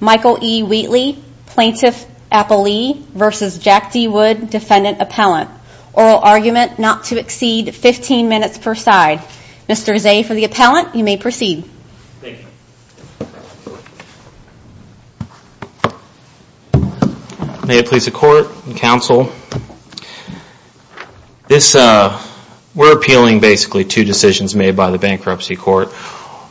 Michael E. Wheatley, Plaintiff Appellee vs. Jack D. Wood, Defendant Appellant. Oral Argument not to exceed 15 minutes per side. Mr. Zay for the Appellant, you may proceed. May it please the Court and Counsel, if the defendant is a plaintiff, We're appealing basically two decisions made by the Bankruptcy Court.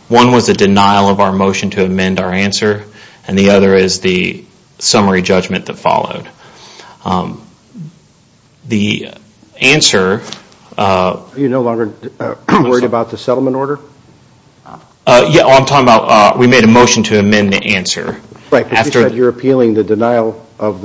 One was a denial of our motion to amend our answer, and the other is the summary judgment that followed. The answer... Are you no longer worried about the settlement order? We made a motion to amend the answer. You're appealing the denial of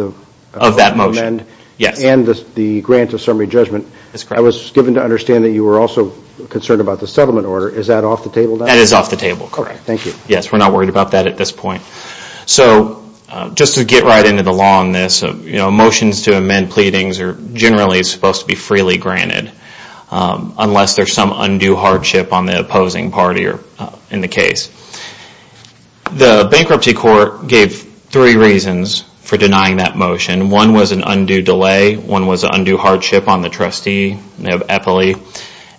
that motion, and the grant of summary judgment. I was given to understand that you were also concerned about the settlement order. Is that off the table now? Yes, we're not worried about that at this point. Just to get right into the law on this, motions to amend pleadings are generally supposed to be freely granted. Unless there's some undue hardship on the opposing party in the case. The Bankruptcy Court gave three reasons for denying that motion. One was an undue delay. One was an undue hardship on the trustee of Appellee.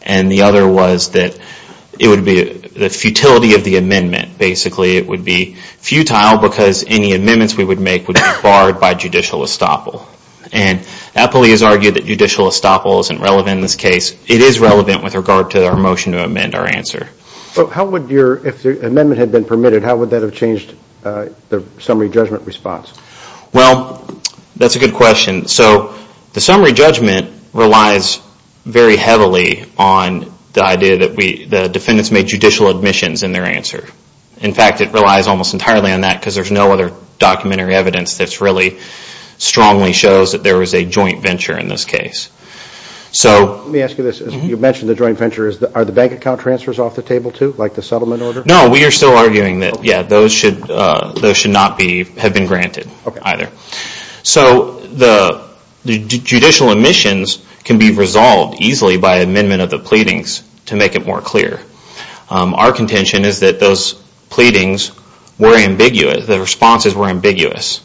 And the other was that it would be the futility of the amendment. Basically it would be futile because any amendments we would make would be barred by judicial estoppel. Appellee has argued that judicial estoppel isn't relevant in this case. It is relevant with regard to our motion to amend our answer. If the amendment had been permitted, how would that have changed the summary judgment response? That's a good question. The summary judgment relies very heavily on the idea that the defendants made judicial admissions in their answer. In fact, it relies almost entirely on that because there's no other documentary evidence that really strongly shows that there was a joint venture in this case. Let me ask you this. You mentioned the joint venture. Are the bank account transfers off the table too, like the settlement order? No, we are still arguing that those should not have been granted either. The judicial admissions can be resolved easily by amendment of the pleadings to make it more clear. Our contention is that those pleadings were ambiguous. The responses were ambiguous.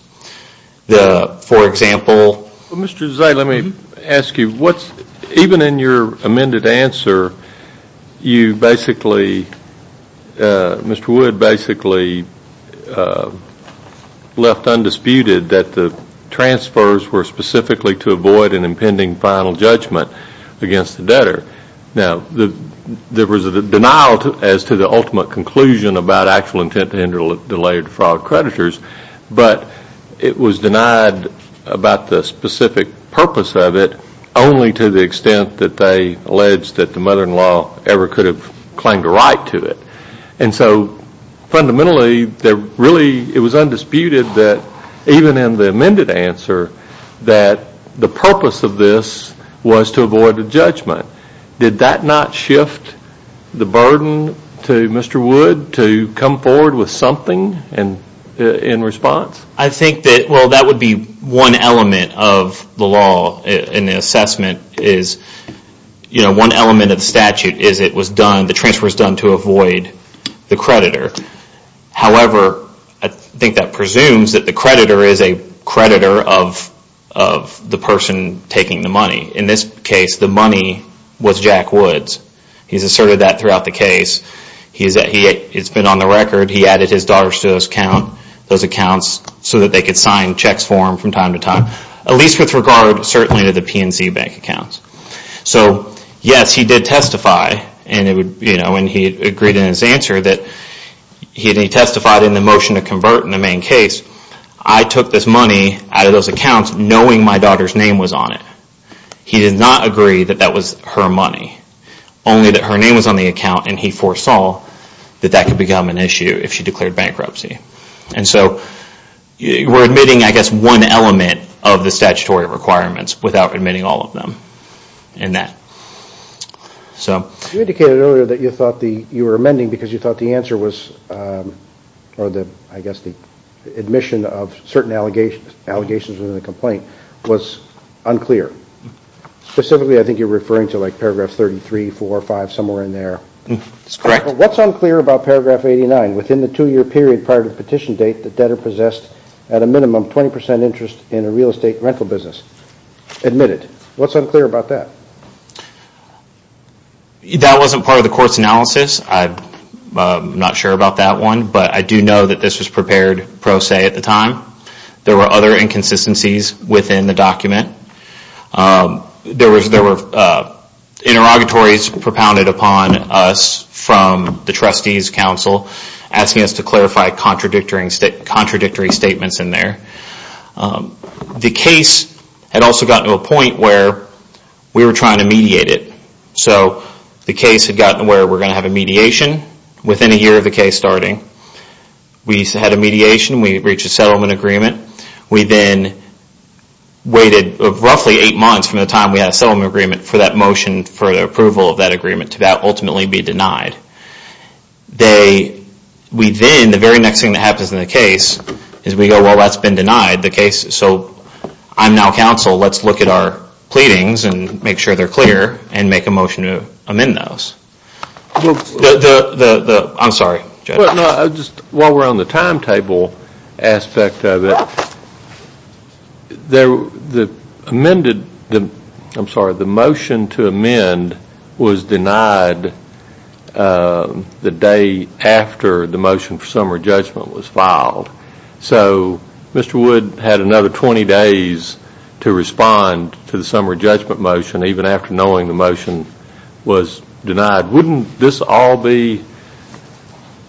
For example... Even in your amended answer, Mr. Wood basically left undisputed that the transfers were specifically to avoid an impending final judgment against the debtor. Now, there was a denial as to the ultimate conclusion about actual intent to interdelay or defraud creditors, but it was denied about the specific purpose of it only to the extent that they alleged that the mother-in-law ever could have claimed a right to it. And so fundamentally, it was undisputed that even in the amended answer that the purpose of this was to avoid a judgment. Did that not shift the burden to Mr. Wood to come forward with something in response? I think that would be one element of the law in the assessment. One element of the statute is that the transfer was done to avoid the creditor. However, I think that presumes that the creditor is a creditor of the person taking the money. In this case, the money was Jack Woods. He's asserted that throughout the case. It's been on the record that he added his daughter's to those accounts so that they could sign checks for him from time to time. At least with regard, certainly, to the PNC bank accounts. So, yes, he did testify and he agreed in his answer that he testified in the motion to convert in the main case. I took this money out of those accounts knowing my daughter's name was on it. He did not agree that that was her money. Only that her name was on the account and he foresaw that that could become an issue if she declared bankruptcy. And so, we're admitting, I guess, one element of the statutory requirements without admitting all of them in that. You indicated earlier that you thought you were amending because you thought the answer was, or I guess the admission of certain allegations in the complaint was unclear. Specifically, I think you're referring to like paragraph 33, 4, 5, somewhere in there. That's correct. What's unclear about paragraph 89? Within the two year period prior to the petition date, the debtor possessed at a minimum 20% interest in a real estate rental business. Admit it. What's unclear about that? That wasn't part of the court's analysis. I'm not sure about that one, but I do know that this was prepared pro se at the time. There were other inconsistencies within the document. There were interrogatories propounded upon us from the trustees council asking us to clarify contradictory statements in there. The case had also gotten to a point where we were trying to mediate it. So, the case had gotten to where we're going to have a mediation within a year of the case starting. We had a mediation. We reached a settlement agreement. We then waited roughly eight months from the time we had a settlement agreement for that motion for the approval of that agreement to that ultimately be denied. The very next thing that happens in the case is we go, well that's been denied. So, I'm now counsel. Let's look at our pleadings and make sure they're clear and make a motion to amend those. I'm sorry, Judge. While we're on the timetable aspect of it, the motion to amend was denied the day after the motion for summer judgment was filed. So, Mr. Wood had another 20 days to respond to the summer judgment motion even after knowing the motion was denied. Wouldn't this all be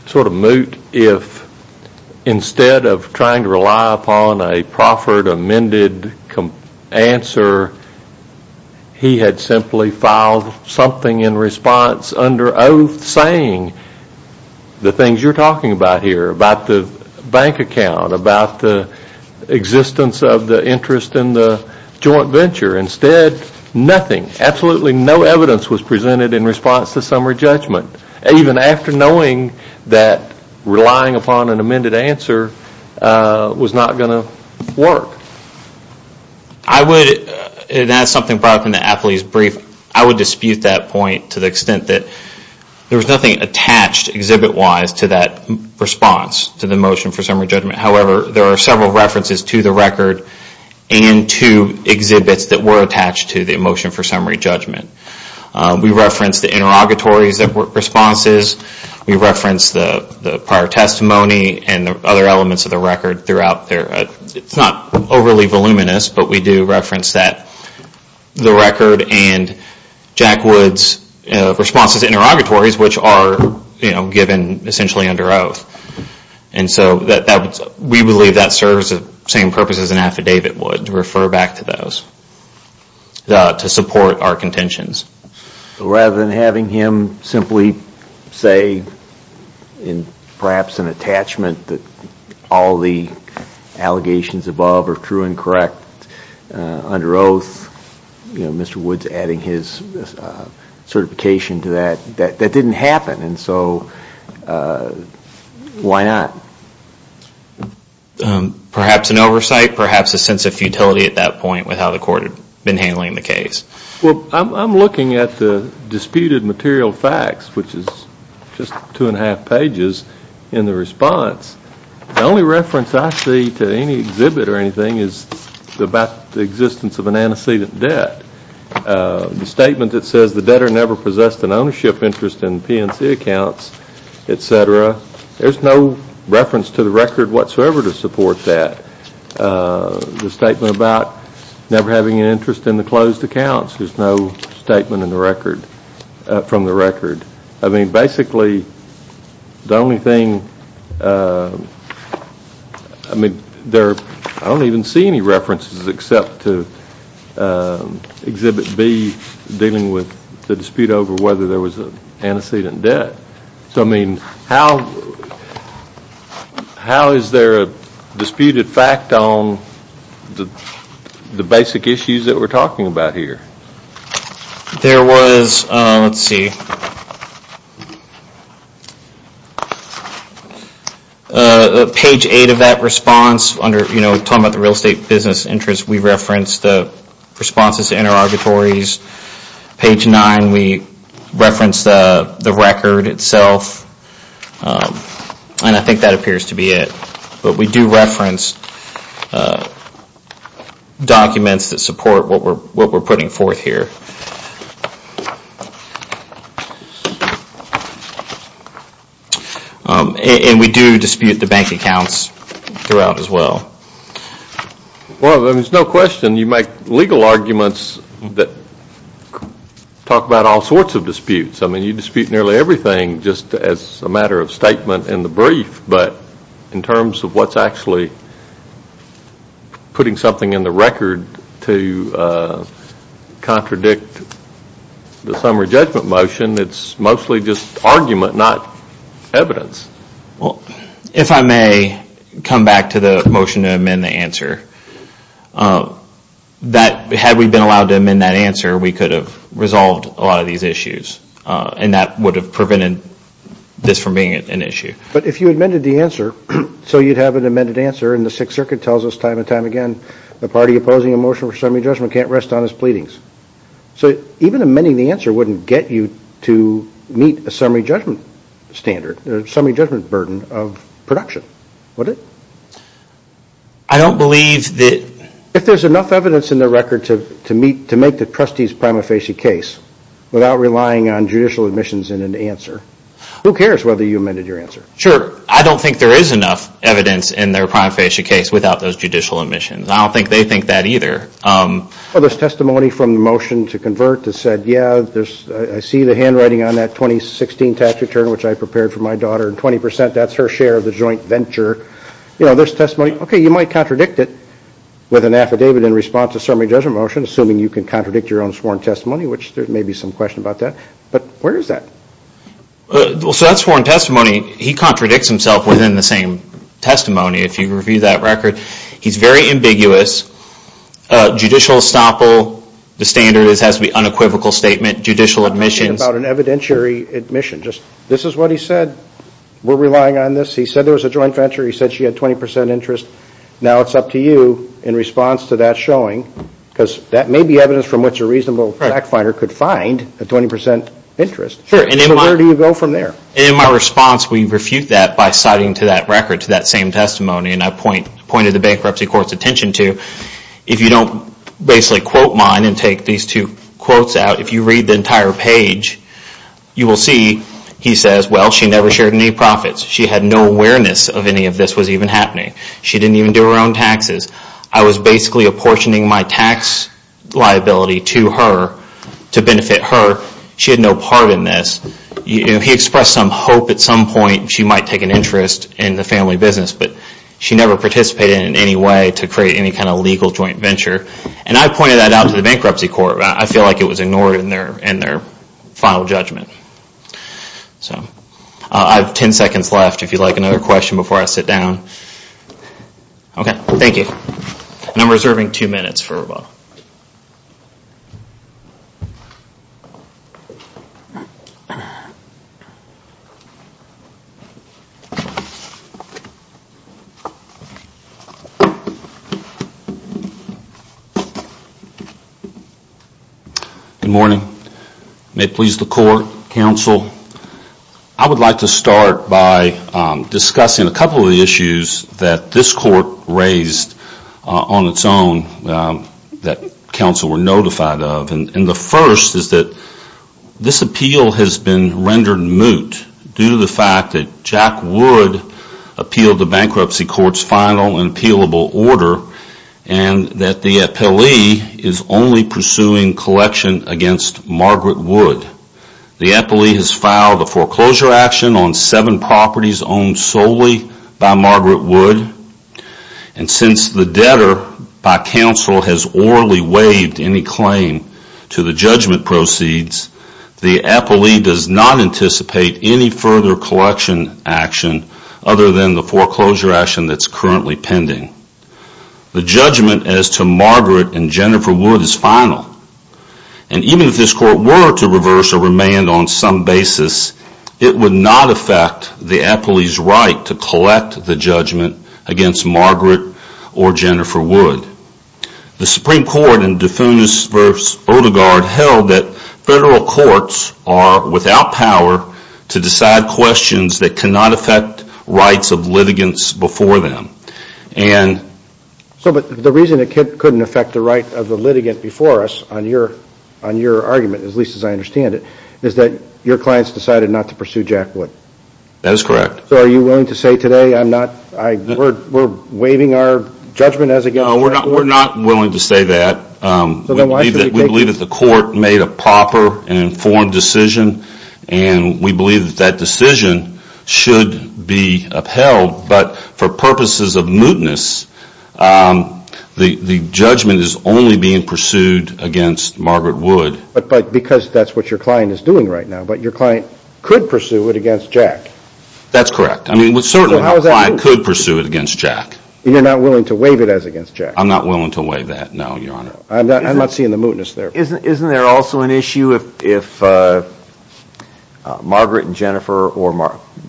sort of moot if instead of trying to rely upon a proffered amended answer, he had simply filed something in response under oath saying the things you're talking about here, about the bank account, about the existence of the interest in the joint venture. Instead, nothing, absolutely no evidence was presented in response to summer judgment. Even after knowing that relying upon an amended answer was not going to work. I would, and that's something brought up in the athlete's brief, I would dispute that point to the extent that there was nothing attached exhibit wise to that response to the motion for summer judgment. However, there are several references to the record and to exhibits that were attached to the motion for summer judgment. We reference the interrogatories that were responses. We reference the prior testimony and other elements of the record throughout. It's not overly voluminous, but we do reference the record and Jack Wood's responses to interrogatories which are given essentially under oath. We believe that serves the same purpose as an affidavit would, to refer back to those to support our contentions. Rather than having him simply say perhaps an attachment that all the allegations above are true and correct under oath, Mr. Wood's adding his Why not? Perhaps an oversight, perhaps a sense of futility at that point with how the court had been handling the case. Well, I'm looking at the disputed material facts, which is just two and a half pages in the response. The only reference I see to any exhibit or anything is about the existence of an antecedent debt. The statement that says the debtor never possessed an ownership interest in PNC accounts, etc. There's no reference to the record whatsoever to support that. The statement about never having an interest in the closed accounts, there's no statement from the record. I mean, basically, the only thing, I mean, I don't even see any references except to exhibit B dealing with the dispute over whether there was an antecedent debt. So, I mean, how is there a disputed fact on the basic issues that we're talking about here? There was, let's see, page 8 of that response, talking about the real estate business interest, we referenced the responses to inter-arbitraries. Page 9, we referenced the record itself. And I think that appears to be it. But we do reference documents that support what we're putting forth here. And we do dispute the bank accounts throughout as well. Well, there's no question you make legal arguments that talk about all sorts of disputes. I mean, you dispute nearly everything just as a matter of statement in the brief. But in terms of what's actually putting something in the record to contradict the summary judgment motion, it's mostly just argument, not evidence. Well, if I may come back to the motion to amend the answer, that, had we been allowed to amend that answer, we could have resolved a lot of these issues. And that would have prevented this from being an issue. But if you amended the answer, so you'd have an amended answer, and the 6th Circuit tells us time and time again, the party opposing a motion for summary judgment can't rest on its pleadings. So even amending the answer wouldn't get you to meet a summary judgment standard, a summary judgment burden of production, would it? If there's enough evidence in the record to make the trustees' prima facie case without relying on judicial admissions in an answer, who cares whether you have a prima facie case without those judicial admissions? I don't think they think that either. There's testimony from the motion to convert that said, yeah, I see the handwriting on that 2016 tax return, which I prepared for my daughter, and 20%, that's her share of the joint venture. There's testimony, okay, you might contradict it with an affidavit in response to a summary judgment motion, assuming you can contradict your own sworn testimony, which there may be some question about that. But where is that? So that's sworn testimony. He contradicts himself within the same testimony, if you review that record. He's very ambiguous. Judicial estoppel, the standard has to be unequivocal statement, judicial admissions. This is what he said, we're relying on this. He said there was a joint venture, he said she had 20% interest. Now it's up to you in response to that showing, because that may be evidence from which a reasonable fact finder could find a 20% interest. So where do you go from there? And in my response, we refute that by citing to that record, to that same testimony, and I pointed the bankruptcy court's attention to, if you don't basically quote mine and take these two quotes out, if you read the entire page, you will see he says, well, she never shared any profits. She had no awareness of any of this was even happening. She didn't even do her own taxes. I was basically apportioning my tax liability to her to benefit her. She had no part in this. He expressed some hope at some point she might take an interest in the family business, but she never participated in any way to create any kind of legal joint venture. And I pointed that out to the bankruptcy court. I feel like it was ignored in their final judgment. I have ten seconds left if you'd like another question before I sit down. Okay, thank you. And I'm reserving two minutes for rebuttal. Good morning. May it please the court, counsel, I would like to start by discussing a couple of the issues that this court raised on its own that counsel were notified of. And the first is that this appeal has been rendered moot due to the fact that Jack Wood appealed the bankruptcy court's final and appealable order and that the appellee is only pursuing collection against Margaret Wood. The appellee has filed a foreclosure action on seven properties owned solely by Margaret Wood. And since the debtor by counsel has orally waived any claim to the judgment proceeds, the appellee does not anticipate any further collection action other than the foreclosure action that is currently pending. The judgment as to Margaret and Jennifer Wood is final. And even if this court were to reverse or remand on some basis, it would not affect the appellee's right to collect the judgment against Margaret or Jennifer Wood. The Supreme Court in Dufounis v. Odegaard held that federal courts are without power to decide questions that cannot affect rights of litigants before them. So the reason it couldn't affect the right of the litigant before us on your argument, at least as I understand it, is that your clients decided not to pursue Jack Wood? That is correct. So are you willing to say today we're waiving our judgment as against Jack Wood? We're not willing to say that. We believe that the court made a proper and informed decision and we believe that decision should be upheld. But for purposes of mootness, the judgment is only being pursued against Margaret Wood. But because that's what your client is doing right now. But your client could pursue it against Jack? That's correct. I mean, certainly my client could pursue it against Jack. You're not willing to waive it as against Jack? I'm not willing to waive that, no, Your Honor. I'm not seeing the mootness there. Isn't there also an issue if Margaret and Jennifer or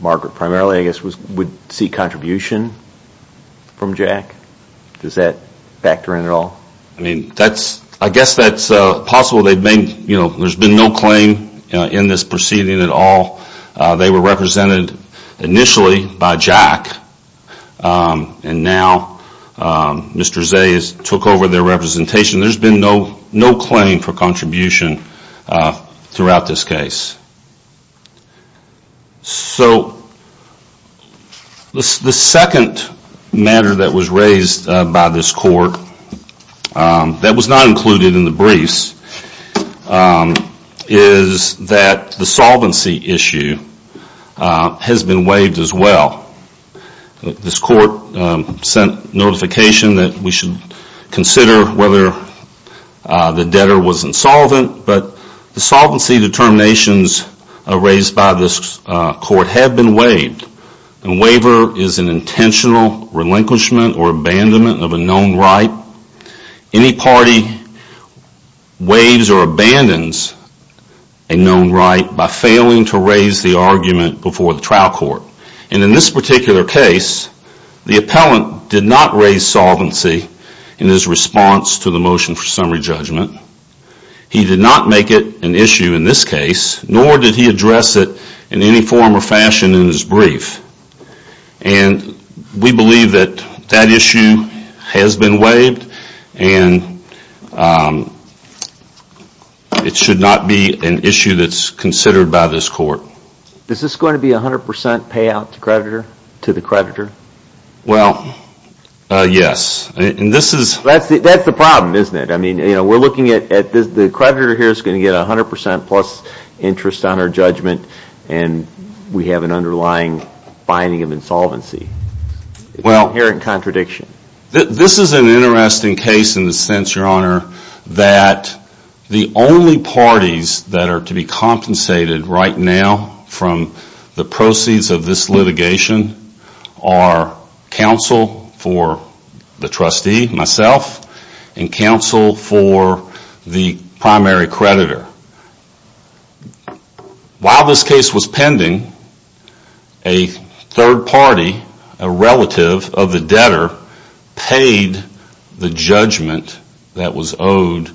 Margaret primarily, I guess, would seek contribution from Jack? Does that factor in at all? I mean, I guess that's possible. There's been no claim in this proceeding at all. They were represented initially by Jack and now Mr. Zayas took over their representation. There's been no claim for contribution throughout this case. So the second matter that was raised by this court that was not included in the briefs is that the solvency issue has been raised by this court. There's no justification that we should consider whether the debtor was insolvent. But the solvency determinations raised by this court have been waived. A waiver is an intentional relinquishment or abandonment of a known right. Any party waives or abandons a known right by failing to raise the argument before the trial court. And in this particular case, the appellant did not raise solvency in his response to the motion for summary judgment. He did not make it an issue in this case, nor did he address it in any form or fashion in his brief. And we believe that that issue has been waived and it should not be an issue that's considered by this court. Is this going to be a 100% payout to the creditor? Well, yes. That's the problem, isn't it? We're looking at the creditor here is going to get a 100% plus interest on our judgment and we have an underlying finding of insolvency. Well, this is an interesting case in the sense, Your Honor, that the only parties that are to be compensated right now from the proceeds of this litigation are counsel for the trustee, myself, and counsel for the primary creditor. While this case was pending, a third party, a relative of the debtor, paid the judgment that was owed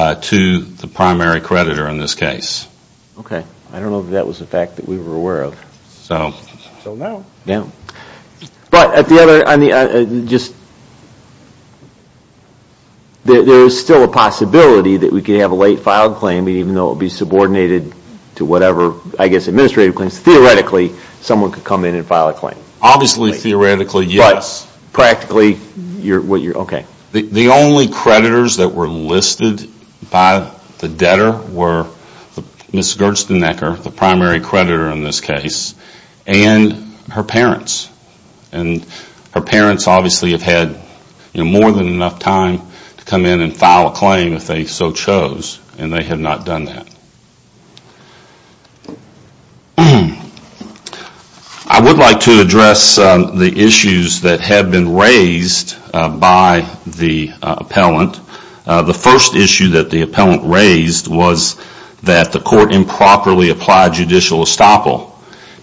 to the primary creditor in this case. Okay. I don't know if that was a fact that we were aware of. But at the other, there is still a possibility that we could have a late filed claim even though it would be subordinated to whatever administrative claims. Theoretically, someone could come in and file a claim. The only creditors that were listed by the debtor were Ms. Gersteneker, the primary creditor. Her parents obviously have had more than enough time to come in and file a claim if they so chose and they have not done that. I would like to address the issues that have been raised by the appellant. The first issue that the appellant raised was that the court improperly relied on judicial estoppel.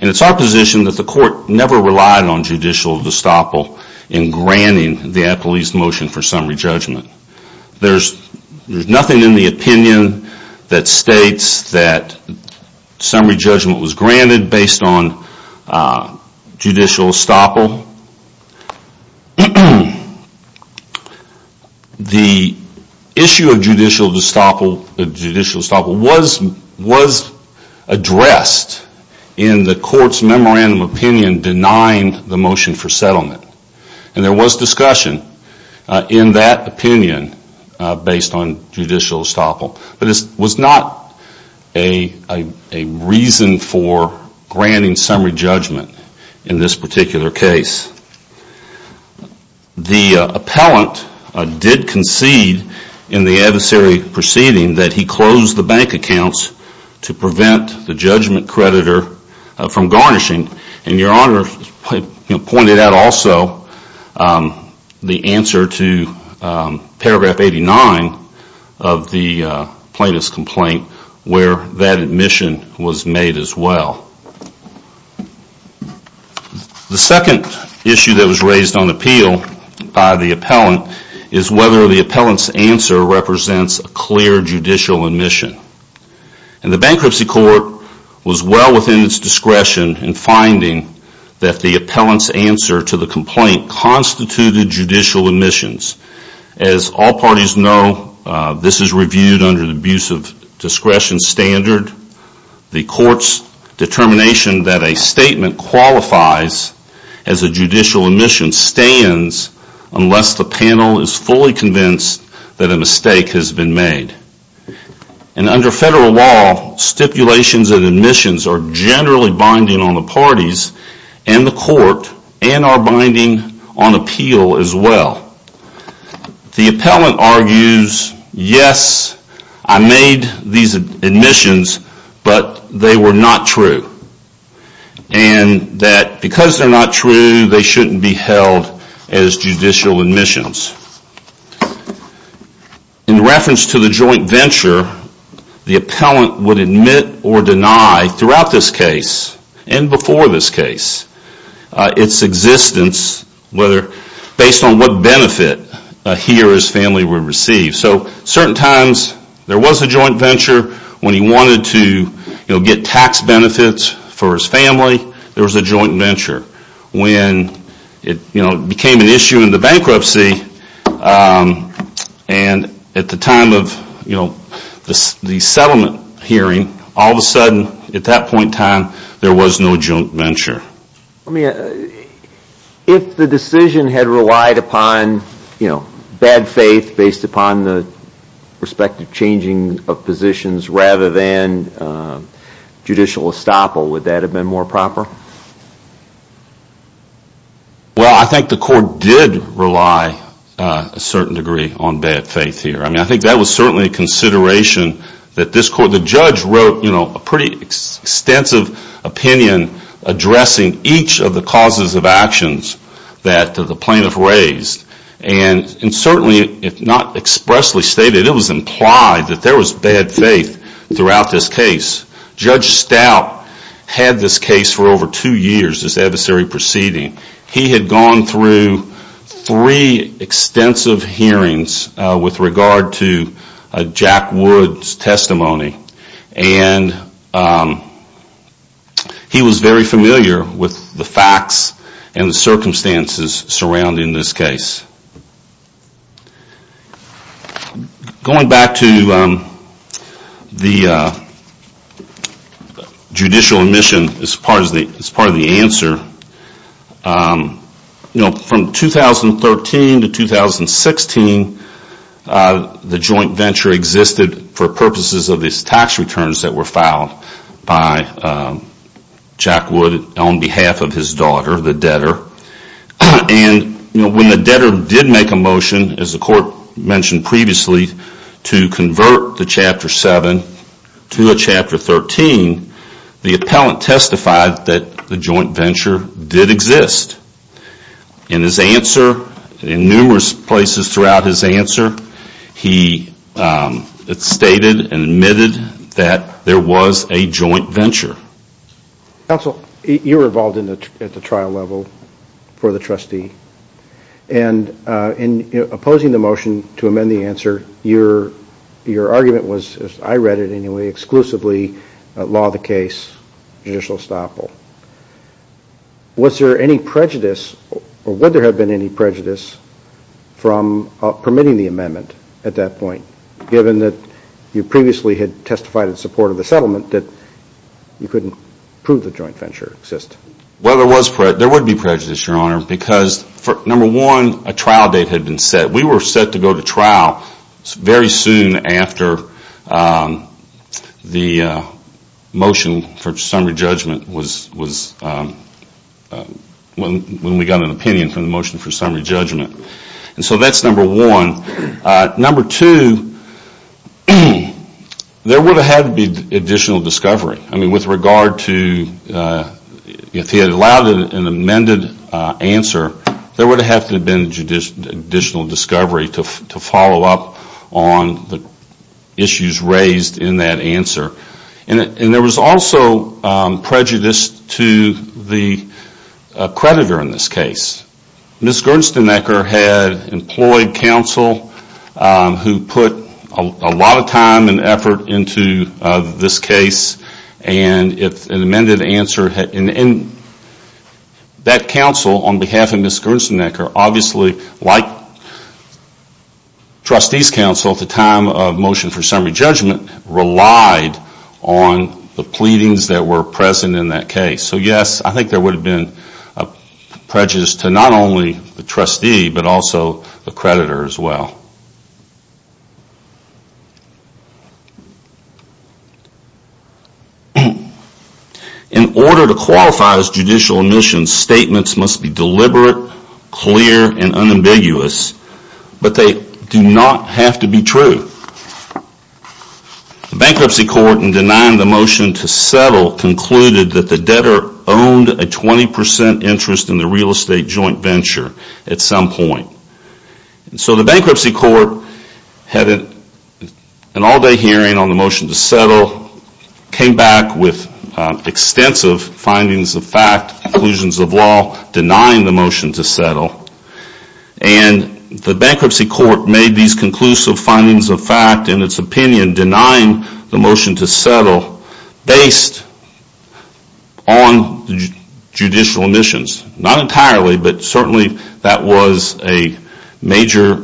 It is our position that the court never relied on judicial estoppel in granting the appellee's motion for summary judgment. There is nothing in the opinion that states that summary judgment was granted based on judicial estoppel. The issue of the court's memorandum of opinion denying the motion for settlement. There was discussion in that opinion based on judicial estoppel. But it was not a reason for granting summary judgment in this particular case. The appellant did concede in the case that the appellant denied the summary judgment creditor from garnishing. Your Honor pointed out also the answer to paragraph 89 of the plaintiff's complaint where that admission was made as well. The second issue that was raised on appeal by the court was well within its discretion in finding that the appellant's answer to the complaint constituted judicial omissions. As all parties know, this is reviewed under the abuse of discretion standard. The court's determination that a statement qualifies as a judicial omission stands unless the panel is fully convinced that a mistake has been made. And under federal law, stipulations and admissions are generally binding on the parties and the court and are binding on appeal as well. The appellant argues, yes, I made these admissions, but they were not true. And that because they're not true, they shouldn't be held as judicial omissions. In reference to the joint venture, the appellant would admit or deny throughout this case and before this case, its existence based on what benefit he or his family would receive. So certain times there was a joint venture when he wanted to get tax benefits for his family, there was a joint venture. When it became an issue in the bankruptcy and at the time of the settlement hearing, all of a sudden at that point in time there was no joint venture. If the decision had relied upon bad faith based upon the respective changing of positions rather than judicial estoppel, would that have been more proper? Well, I think the court did rely a certain degree on bad faith here. I think that was certainly a consideration that this court, the judge wrote a pretty extensive opinion addressing each of the causes of actions that the plaintiff raised. And certainly if not expressly stated, it was implied that there was bad faith throughout this case. Judge Stout had this case for over two years, this adversary proceeding. He had gone through three extensive hearings with regard to Jack Wood's testimony and he was very familiar with the facts and the circumstances surrounding this case. Going back to the judicial admission as part of the answer, from 2013 to 2016 the joint venture existed for purposes of his tax returns that were filed by Jack Wood on behalf of his daughter, the debtor. And when the debtor did make a motion, as the court mentioned previously, to convert the Chapter 7 to a Chapter 13, the appellant testified that the joint venture did not exist. And in his answer, he stated and admitted that there was a joint venture. Counsel, you were involved at the trial level for the trustee. And in opposing the motion to amend the answer, your argument was, as I read it anyway, exclusively law of the case, judicial estoppel. Was there any prejudice, or would there have been any prejudice from permitting the amendment at that point, given that you previously had testified in support of the settlement that you couldn't prove the joint venture existed? Well, there would be prejudice, Your Honor, because number one, a trial date had been set. We were set to go to trial very soon after the motion for summary judgment was when we got an opinion from the motion for summary judgment. And so that's number one. Number two, there would have had to be additional discovery. I mean, with regard to if he had allowed an amended answer, there would have had to have been additional discovery to follow up on the issues raised in that answer. And there was also prejudice to the creditor in this case. Ms. Gersteneker had employed counsel who put a lot of time and effort into this case. And an amended answer and that counsel on behalf of Ms. Gersteneker obviously like trustee's counsel at the time of motion for summary judgment relied on the pleadings that were present in that case. So yes, I think there would have been prejudice to not only the trustee but also the creditor as well. In order to qualify as judicial admission, statements must be deliberate, clear, and unambiguous. But they do not have to be true. The bankruptcy court in denying the motion to settle concluded that the debtor owned a 20% interest in the real estate joint venture at some point. So the bankruptcy court had an all day hearing on the motion to settle, came back with extensive findings of fact, conclusions of law, denying the motion to settle. And the bankruptcy court made these conclusive findings of fact in its opinion denying the motion to settle based on judicial admissions. Not entirely but certainly that was a major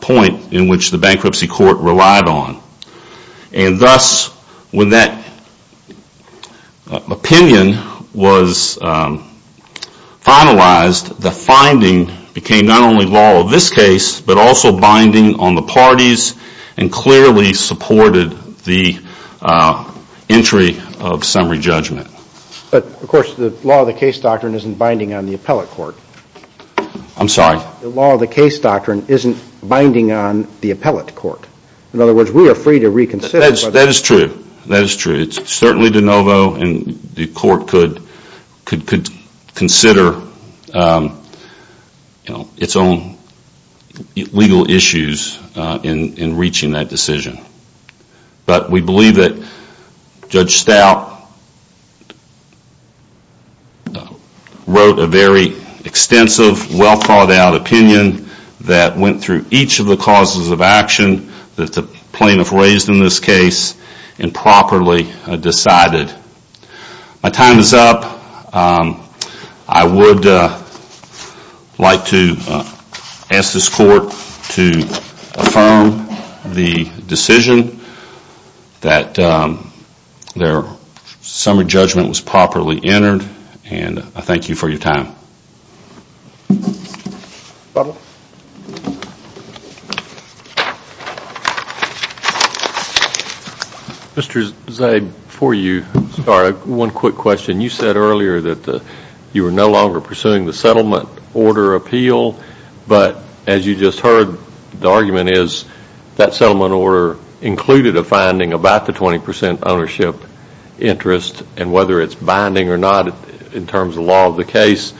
point in which the bankruptcy court relied on. And thus when that opinion was finalized, the finding became not only law of this case but also binding on the parties and clearly supported the entry of summary judgment. But of course the law of the case doctrine isn't binding on the appellate court. I'm sorry? The law of the case doctrine isn't binding on the appellate court. In other words, we are free to reconsider. That is true. It's certainly de novo and the court could consider its own legal issues in reaching that decision. But we believe that Judge Stout wrote a very extensive, well thought out opinion that went through each of the causes of action that the plaintiff raised in this case and properly decided. My time is up. I would like to ask this court to affirm the decision that their summary judgment was properly entered and I thank you for your time. Mr. Zabe, before you start, one quick question. You said earlier that you were no longer pursuing the settlement order appeal, but as you just heard, the argument is that settlement order included a finding about the 20% ownership interest and whether it's binding or not in terms of the law of the case.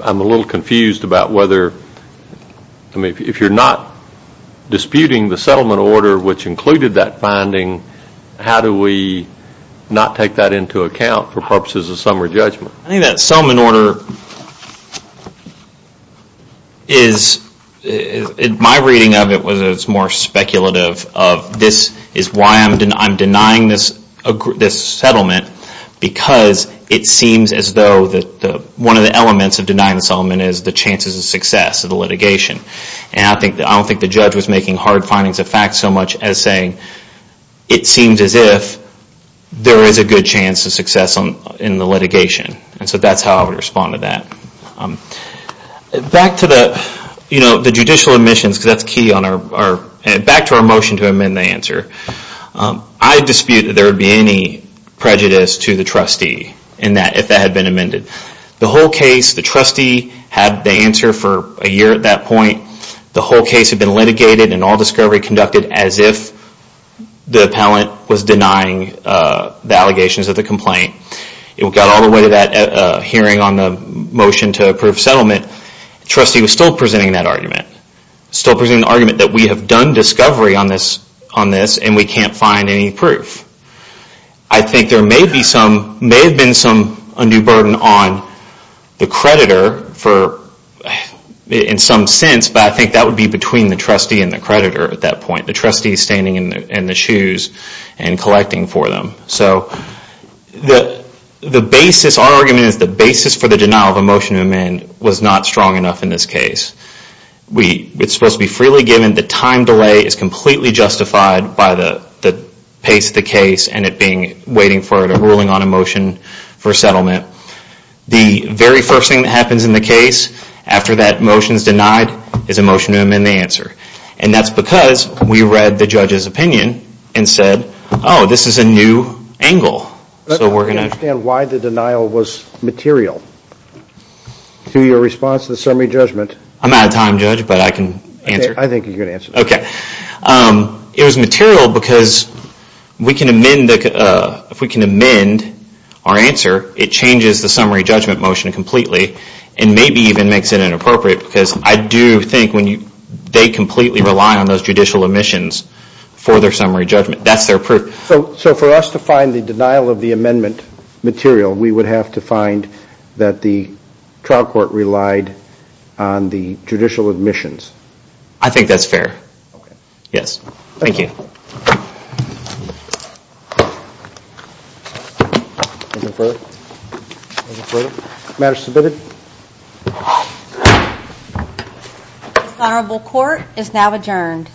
I'm a little confused about whether, I mean, if you're not disputing the settlement order which included that finding, how do we not take that into account for purposes of summary judgment? I think that settlement order is, in my reading of it, it's more speculative of this is why I'm denying this settlement because it seems as though one of the elements of denying the settlement is the chances of success of the litigation. And I don't think the judge was making hard findings of facts so much as saying it seems as if there is a good chance of success in the litigation. So that's how I would respond to that. Back to the judicial admissions because that's key. Back to our motion to amend the answer. I dispute that there would be any prejudice to the trustee if that had been amended. The whole case, the trustee had the answer for a year at that point. The whole case had been litigated and all discovery conducted as if the appellant was denying the proof of settlement. The trustee was still presenting that argument. Still presenting the argument that we have done discovery on this and we can't find any proof. I think there may have been a new burden on the creditor in some sense, but I think that would be between the trustee and the creditor at that point. The trustee standing in the shoes and collecting for them. So the basis, our argument is the basis for the denial of a motion to amend was not strong enough in this case. It's supposed to be freely given. The time delay is completely justified by the pace of the case and it being waiting for a ruling on a motion for settlement. The very first thing that happens in the case after that motion is denied is a motion to amend the answer. And that's because we read the judge's opinion and said, oh, this is a new angle. So we're going to. I don't understand why the denial was material to your response to the summary judgment. I'm out of time judge, but I can answer. I think you can answer. Okay. It was material because we can amend our answer. It changes the summary judgment motion completely and maybe even makes it inappropriate because I do think they completely rely on those judicial admissions for their summary judgment. That's their proof. So for us to find the denial of the amendment material, we would have to find that the trial court relied on the judicial admissions. I think that's fair. Yes. Thank you. Further further matter submitted. Honorable court is now adjourned.